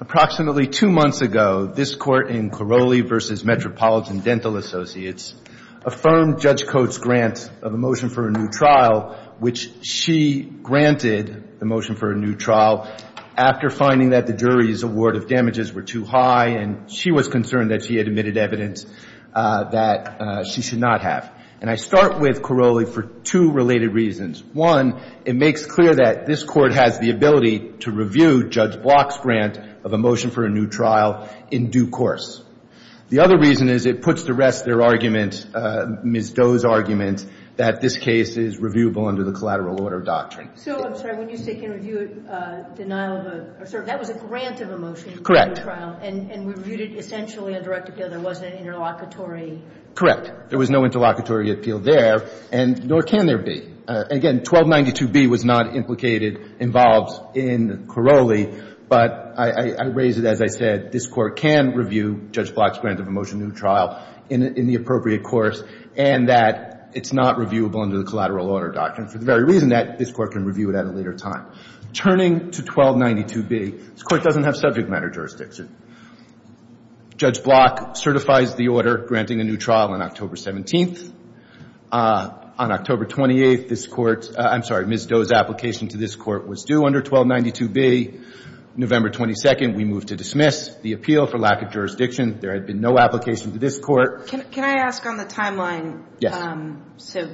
Approximately two months ago, this Court in Corolli v. Metropolitan Dental Associates affirmed Judge Coates' grant of a motion for a new trial, which she granted the motion for a new trial after finding that the jury's award of damages were too high, and she was concerned that she had admitted evidence that she should not have. And I start with Corolli for two related reasons. One, it makes clear that this Court has the ability to review Judge Block's grant of a motion for a new trial in due course. The other reason is it puts to rest their argument, Ms. Doe's argument, that this case is reviewable under the collateral order doctrine. So I'm sorry. When you say can review denial of a – that was a grant of a motion for a new trial. And we reviewed it essentially on direct appeal. There wasn't an interlocutory – Correct. There was no interlocutory appeal there, and nor can there be. Again, 1292B was not implicated, involved in Corolli, but I raise it, as I said, this Court can review Judge Block's grant of a motion for a new trial in the appropriate course and that it's not reviewable under the collateral order doctrine for the very reason that this Court can review it at a later time. Turning to 1292B, this Court doesn't have subject matter jurisdictions. Judge Block certifies the order granting a new trial on October 17th. On October 28th, this Court – I'm sorry, Ms. Doe's application to this Court was due under 1292B. November 22nd, we moved to dismiss the appeal for lack of jurisdiction. There had been no application to this Court. Can I ask on the timeline? Yes. So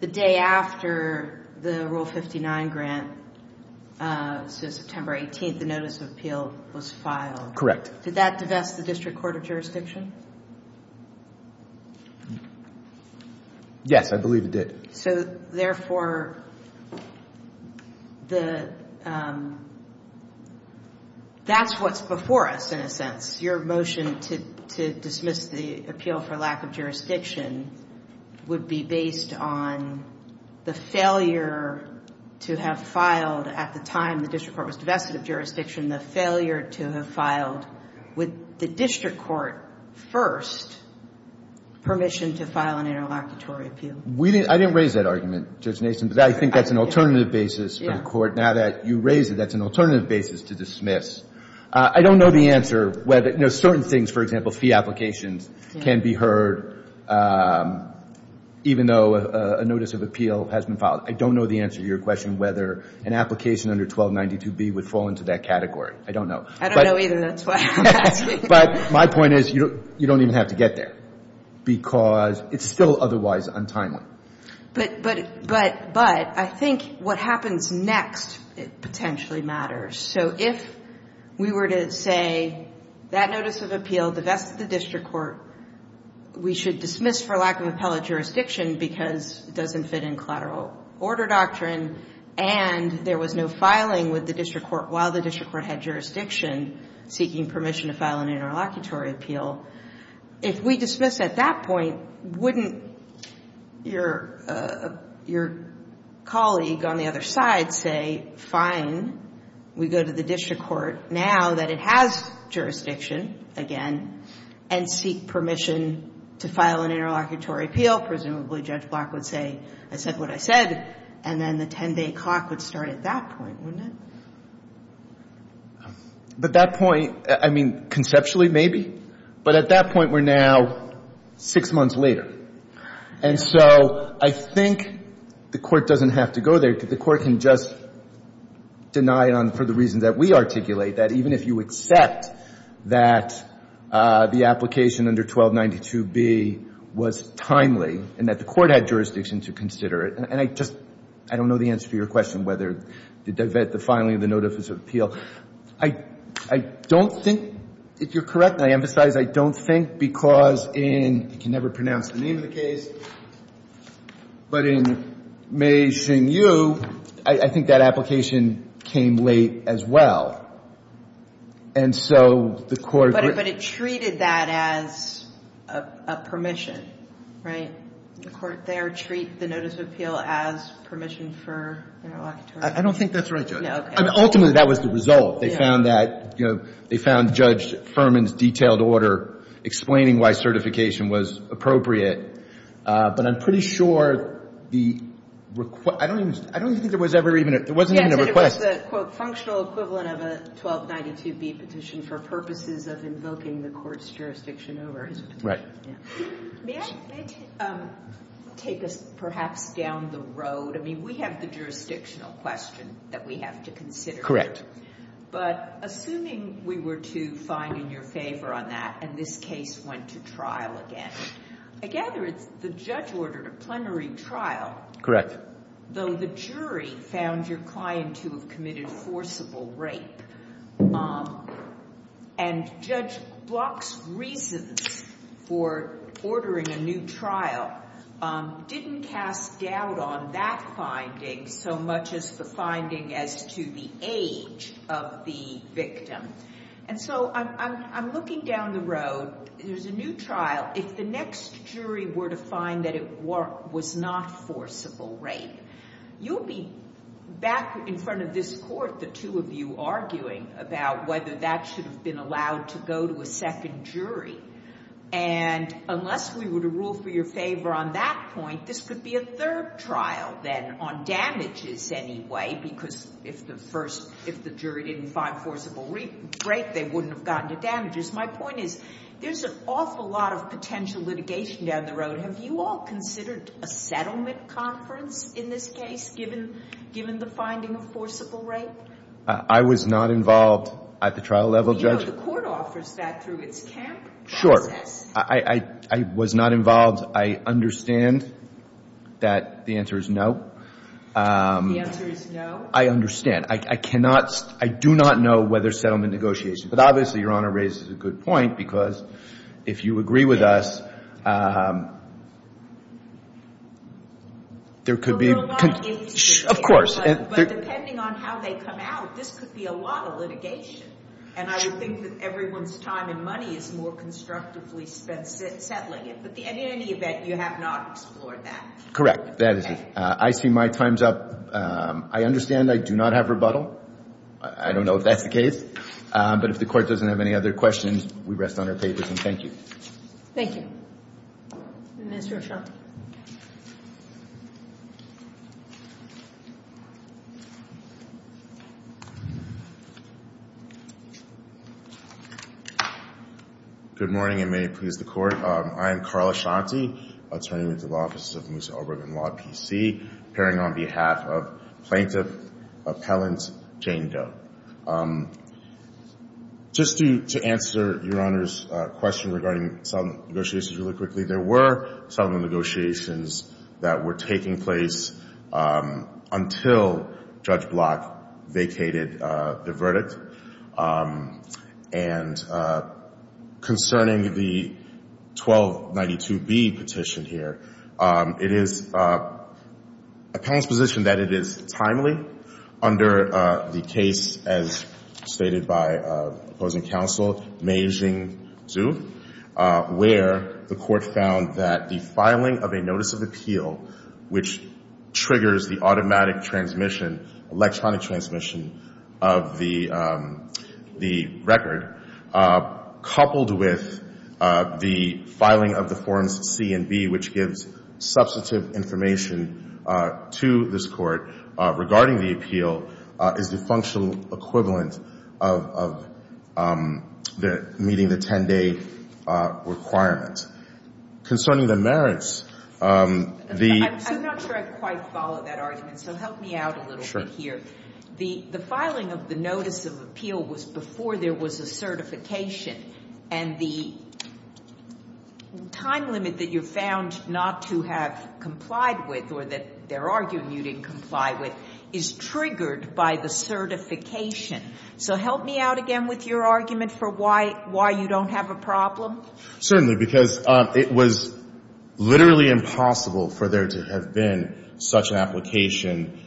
the day after the Rule 59 grant, so September 18th, the notice of appeal was filed. Correct. Did that divest the District Court of Jurisdiction? Yes, I believe it did. So, therefore, the – that's what's before us, in a sense. Your motion to dismiss the appeal for lack of jurisdiction would be based on the failure to have filed at the time the District Court was divested of jurisdiction, the failure to have filed with the District Court first permission to file an interlocutory appeal. I didn't raise that argument, Judge Mason, but I think that's an alternative basis for the Court. Now that you raised it, that's an alternative basis to dismiss. I don't know the answer whether – you know, certain things, for example, fee applications can be heard even though a notice of appeal has been filed. I don't know the answer to your question whether an application under 1292B would fall into that category. I don't know. I don't know either. That's why I'm asking. But my point is you don't even have to get there because it's still otherwise untimely. But I think what happens next potentially matters. So if we were to say that notice of appeal divested the District Court, we should dismiss for lack of appellate jurisdiction because it doesn't fit in collateral order doctrine, and there was no filing with the District Court while the District Court had jurisdiction seeking permission to file an interlocutory appeal. If we dismiss at that point, wouldn't your colleague on the other side say, fine, we go to the District Court now that it has jurisdiction again and seek permission to file an interlocutory appeal? Presumably Judge Black would say, I said what I said, and then the 10-day clock would start at that point, wouldn't it? At that point, I mean, conceptually maybe, but at that point we're now six months later. And so I think the Court doesn't have to go there because the Court can just deny it for the reasons that we articulate, that even if you accept that the application under 1292B was timely and that the Court had jurisdiction to consider it. And I just don't know the answer to your question whether the divest, the filing of the notice of appeal. So I don't think, if you're correct, and I emphasize I don't think, because in, I can never pronounce the name of the case, but in Macing U, I think that application came late as well. And so the Court. But it treated that as a permission, right? The Court there treated the notice of appeal as permission for interlocutory. I don't think that's right, Judge. No, okay. Ultimately, that was the result. They found that, you know, they found Judge Furman's detailed order explaining why certification was appropriate. But I'm pretty sure the request, I don't even, I don't even think there was ever even a, there wasn't even a request. Yes, it was a, quote, functional equivalent of a 1292B petition for purposes of invoking the Court's jurisdiction over his petition. Right. May I take us perhaps down the road? I mean, we have the jurisdictional question that we have to consider. But assuming we were to find in your favor on that and this case went to trial again, I gather the judge ordered a plenary trial. Correct. Though the jury found your client to have committed forcible rape. And Judge Block's reasons for ordering a new trial didn't cast doubt on that finding so much as the finding as to the age of the victim. And so I'm looking down the road. There's a new trial. If the next jury were to find that it was not forcible rape, you'll be back in front of this court, the two of you, arguing about whether that should have been allowed to go to a second jury. And unless we were to rule for your favor on that point, this could be a third trial then on damages anyway, because if the first, if the jury didn't find forcible rape, they wouldn't have gotten to damages. My point is, there's an awful lot of potential litigation down the road. Have you all considered a settlement conference in this case, given the finding of forcible rape? I was not involved at the trial level, Judge. The court offers that through its camp process. I was not involved. I understand that the answer is no. The answer is no. I understand. I cannot, I do not know whether settlement negotiations. But obviously, Your Honor raises a good point, because if you agree with us, there could be. Of course. But depending on how they come out, this could be a lot of litigation. And I would think that everyone's time and money is more constructively spent settling it. But in any event, you have not explored that. Correct. That is it. I see my time's up. I understand I do not have rebuttal. I don't know if that's the case. But if the court doesn't have any other questions, we rest on our pavers, and thank you. Thank you. Mr. Ashanti. Good morning, and may it please the Court. I am Carl Ashanti, Attorney with the Law Offices of Musa Oberg and Law PC, appearing on behalf of Plaintiff Appellant Jane Doe. Just to answer Your Honor's question regarding settlement negotiations really quickly, there were settlement negotiations that were taking place until Judge Block vacated the verdict. And concerning the 1292B petition here, it is a past position that it is timely under the case, as stated by opposing counsel Mei-Hsing Tzu, where the court found that the filing of a notice of appeal, which triggers the automatic transmission, electronic transmission of the record, coupled with the filing of the Forms C and B, which gives substantive information to this court regarding the appeal, is the functional equivalent of meeting the 10-day requirement. Concerning the merits, the — I'm not sure I quite follow that argument, so help me out a little bit here. The filing of the notice of appeal was before there was a certification, and the time limit that you found not to have complied with, or that they're arguing you didn't comply with, is triggered by the certification. So help me out again with your argument for why you don't have a problem? Certainly, because it was literally impossible for there to have been such an application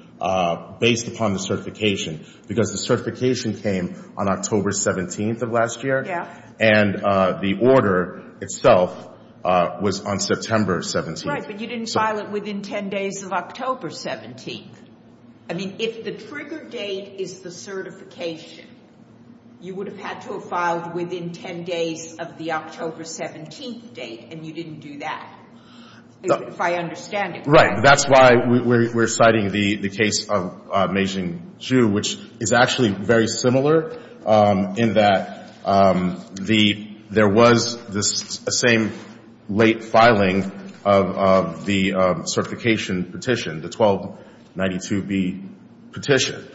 based upon the certification, because the certification came on October 17th of last year. Yeah. And the order itself was on September 17th. Right, but you didn't file it within 10 days of October 17th. I mean, if the trigger date is the certification, you would have had to have filed within 10 days of the October 17th date, and you didn't do that, if I understand it correctly. Right. That's why we're citing the case of Meijing Zhu, which is actually very similar, in that there was the same late filing of the certification petition, the 1292B petition.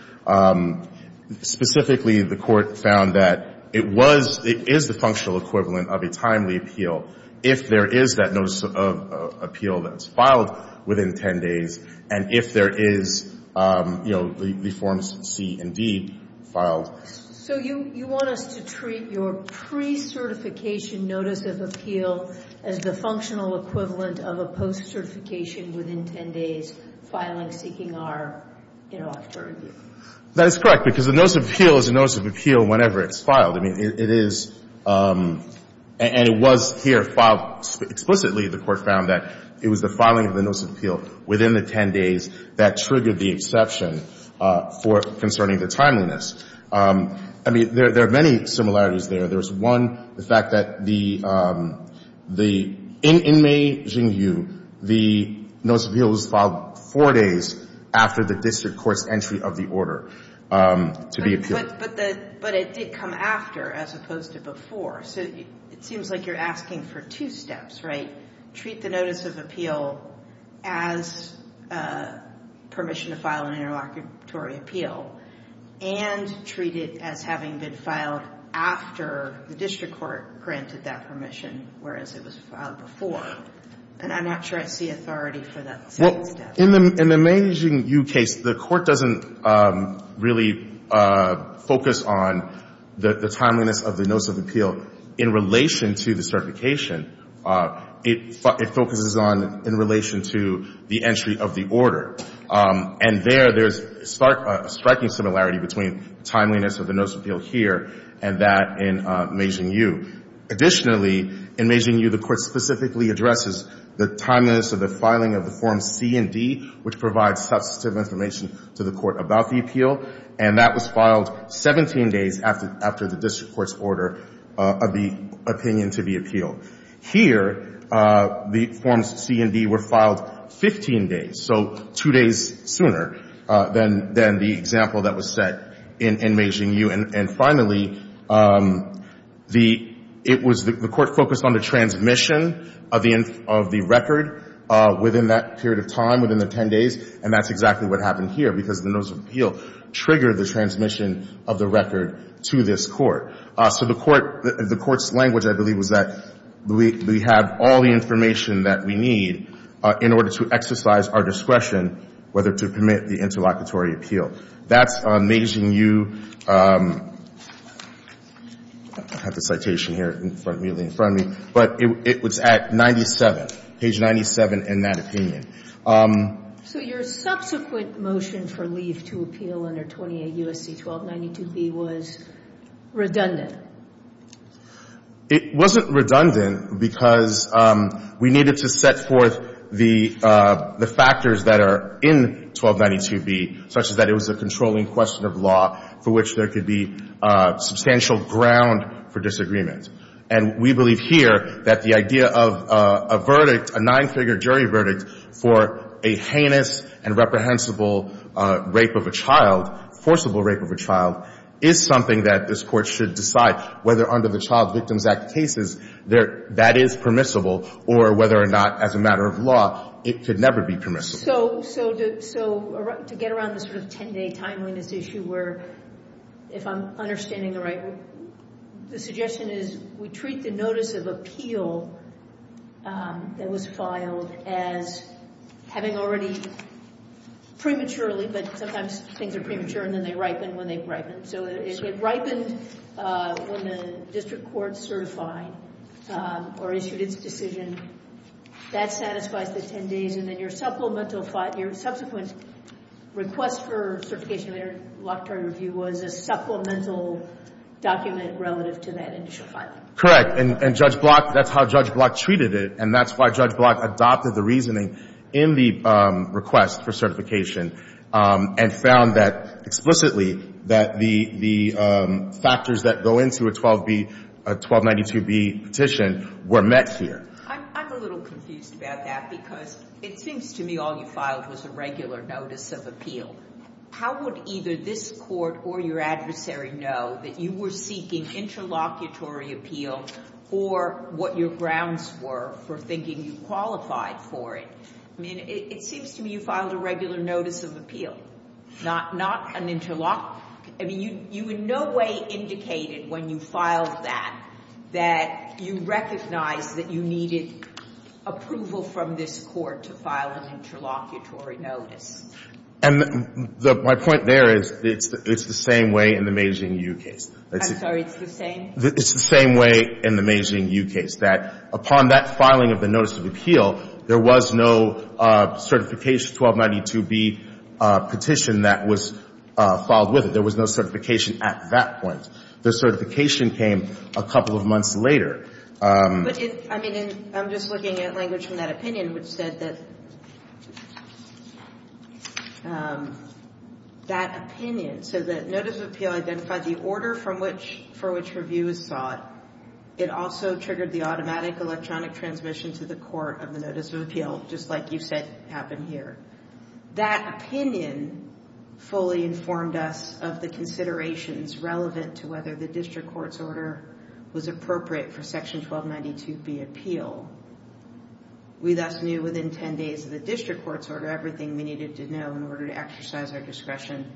Specifically, the Court found that it was, it is the functional equivalent of a timely appeal if there is that notice of appeal that's filed within 10 days, and if there is, you know, the forms C and D filed. So you want us to treat your pre-certification notice of appeal as the functional equivalent of a post-certification within 10 days, filing, seeking our interlocutor review? That is correct, because the notice of appeal is a notice of appeal whenever it's filed. I mean, it is, and it was here filed. Explicitly, the Court found that it was the filing of the notice of appeal within the 10 days that triggered the exception for concerning the timeliness. I mean, there are many similarities there. There is one, the fact that the, in Meijing Zhu, the notice of appeal was filed four days after the district court's entry of the order to be appealed. But it did come after, as opposed to before. So it seems like you're asking for two steps, right? Treat the notice of appeal as permission to file an interlocutory appeal and treat it as having been filed after the district court granted that permission, whereas it was filed before. And I'm not sure I see authority for that second step. In the Meijing Zhu case, the Court doesn't really focus on the timeliness of the notice of appeal in relation to the certification. It focuses on in relation to the entry of the order. And there, there's a striking similarity between timeliness of the notice of appeal here and that in Meijing Zhu. Additionally, in Meijing Zhu, the Court specifically addresses the timeliness of the filing of the Forms C and D, which provides substantive information to the Court about the appeal. And that was filed 17 days after the district court's order of the opinion to be appealed. Here, the Forms C and D were filed 15 days, so two days sooner than the example that was set in Meijing Zhu. And finally, the Court focused on the transmission of the record within that period of time, within the 10 days, and that's exactly what happened here because the notice of appeal triggered the transmission of the record to this Court. So the Court's language, I believe, was that we have all the information that we need in order to exercise our discretion, whether to permit the interlocutory appeal. That's Meijing Zhu. I have the citation here immediately in front of me. But it was at 97, page 97, in that opinion. So your subsequent motion for leave to appeal under 28 U.S.C. 1292b was redundant. It wasn't redundant because we needed to set forth the factors that are in 1292b, such as that it was a controlling question of law for which there could be substantial ground for disagreement. And we believe here that the idea of a verdict, a nine-figure jury verdict, for a heinous and reprehensible rape of a child, forcible rape of a child, is something that this Court should decide whether under the Child Victims Act cases that is permissible or whether or not, as a matter of law, it could never be permissible. So to get around this sort of 10-day timeliness issue where, if I'm understanding it right, the suggestion is we treat the notice of appeal that was filed as having already prematurely, but sometimes things are premature and then they ripen when they've ripened. So if it ripened when the district court certified or issued its decision, that satisfies the 10 days. And then your subsequent request for certification of interlocutory review was a supplemental document relative to that initial filing. Correct. And Judge Block, that's how Judge Block treated it. And that's why Judge Block adopted the reasoning in the request for certification. And found that explicitly that the factors that go into a 1292B petition were met here. I'm a little confused about that because it seems to me all you filed was a regular notice of appeal. How would either this Court or your adversary know that you were seeking interlocutory appeal or what your grounds were for thinking you qualified for it? I mean, it seems to me you filed a regular notice of appeal, not an interlocutory I mean, you in no way indicated when you filed that that you recognized that you needed approval from this Court to file an interlocutory notice. And my point there is it's the same way in the Meijing U case. I'm sorry. It's the same? It's the same way in the Meijing U case. That upon that filing of the notice of appeal, there was no certification 1292B petition that was filed with it. There was no certification at that point. The certification came a couple of months later. But it's – I mean, I'm just looking at language from that opinion, which said that that opinion, so that notice of appeal identified the order from which – for which review was sought. It also triggered the automatic electronic transmission to the court of the notice of appeal, just like you said happened here. That opinion fully informed us of the considerations relevant to whether the district court's order was appropriate for Section 1292B appeal. We thus knew within 10 days of the district court's order everything we needed to know in order to exercise our discretion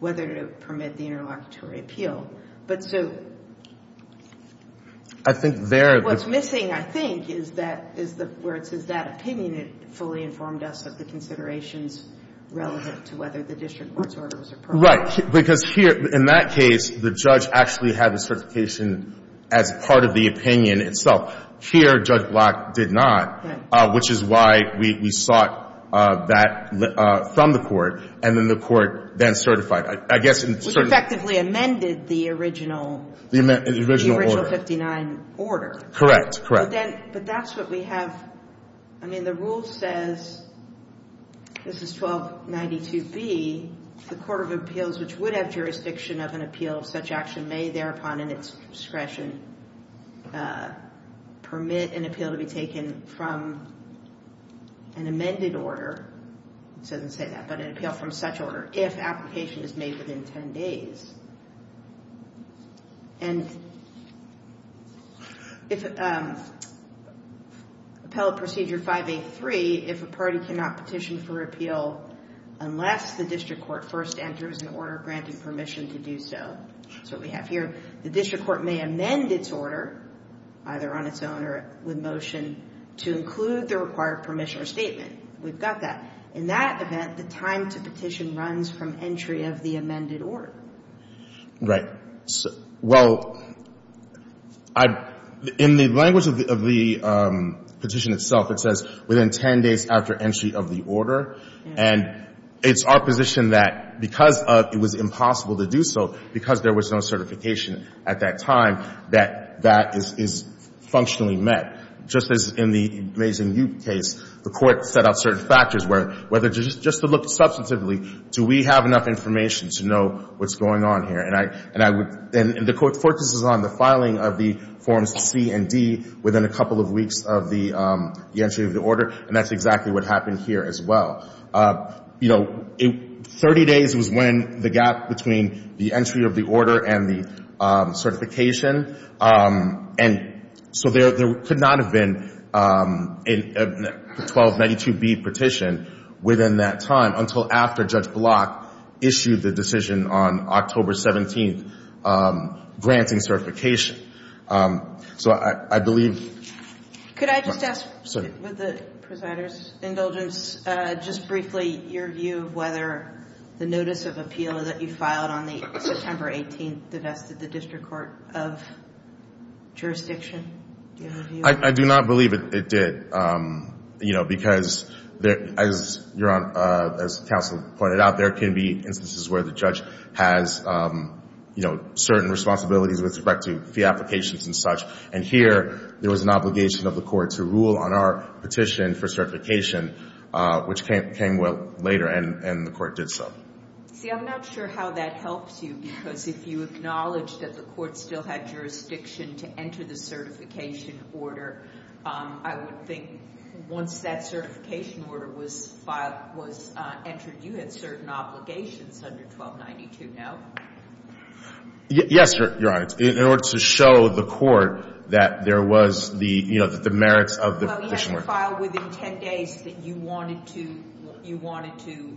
whether to permit the interlocutory appeal. But so – I think there – What's missing, I think, is that – is the – where it says that opinion fully informed us of the considerations relevant to whether the district court's order was appropriate. Right. Because here, in that case, the judge actually had the certification as part of the opinion itself. Here, Judge Block did not, which is why we sought that from the court, and then the court then certified. I guess in – Effectively amended the original – The original order. The original 59 order. Correct. Correct. But then – but that's what we have – I mean, the rule says – this is 1292B – the court of appeals which would have jurisdiction of an appeal of such action may thereupon in its discretion permit an appeal to be taken from an amended order – it doesn't say that – but an appeal from such order if application is made within 10 days. And if appellate procedure 583, if a party cannot petition for appeal unless the district court first enters an order granting permission to do so – that's what we have here – the district court may amend its order, either on its own or with motion, to include the required permission or statement. We've got that. In that event, the time to petition runs from entry of the amended order. Right. Well, I – in the language of the petition itself, it says within 10 days after entry of the order. And it's our position that because of – it was impossible to do so because there was no certification at that time that that is functionally met. And just as in the Mazin Yoop case, the court set out certain factors where whether – just to look substantively, do we have enough information to know what's going on here? And I would – and the court focuses on the filing of the Forms C and D within a couple of weeks of the entry of the order, and that's exactly what happened here as well. You know, 30 days was when the gap between the entry of the order and the certification and so there could not have been a 1292B petition within that time until after Judge Block issued the decision on October 17th granting certification. So I believe – Could I just ask with the presider's indulgence, just briefly, your view of whether the notice of appeal that you filed on the September 18th divested the district court of jurisdiction? Do you have a view? I do not believe it did, you know, because as counsel pointed out, there can be instances where the judge has, you know, certain responsibilities with respect to fee applications and such. And here, there was an obligation of the court to rule on our petition for certification, which came later and the court did so. See, I'm not sure how that helps you because if you acknowledge that the court still had jurisdiction to enter the certification order, I would think once that certification order was filed, was entered, you had certain obligations under 1292, no? Yes, Your Honor. In order to show the court that there was the, you know, the merits of the petition. Well, you had to file within 10 days that you wanted to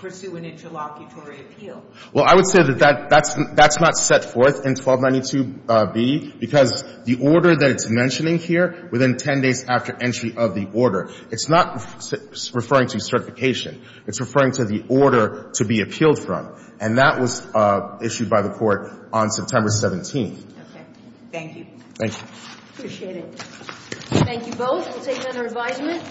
pursue an interlocutory appeal. Well, I would say that that's not set forth in 1292B because the order that it's mentioning here, within 10 days after entry of the order, it's not referring to certification. It's referring to the order to be appealed from. And that was issued by the court on September 17th. Okay. Thank you. Thank you. Appreciate it. Thank you both. We'll take another advisement.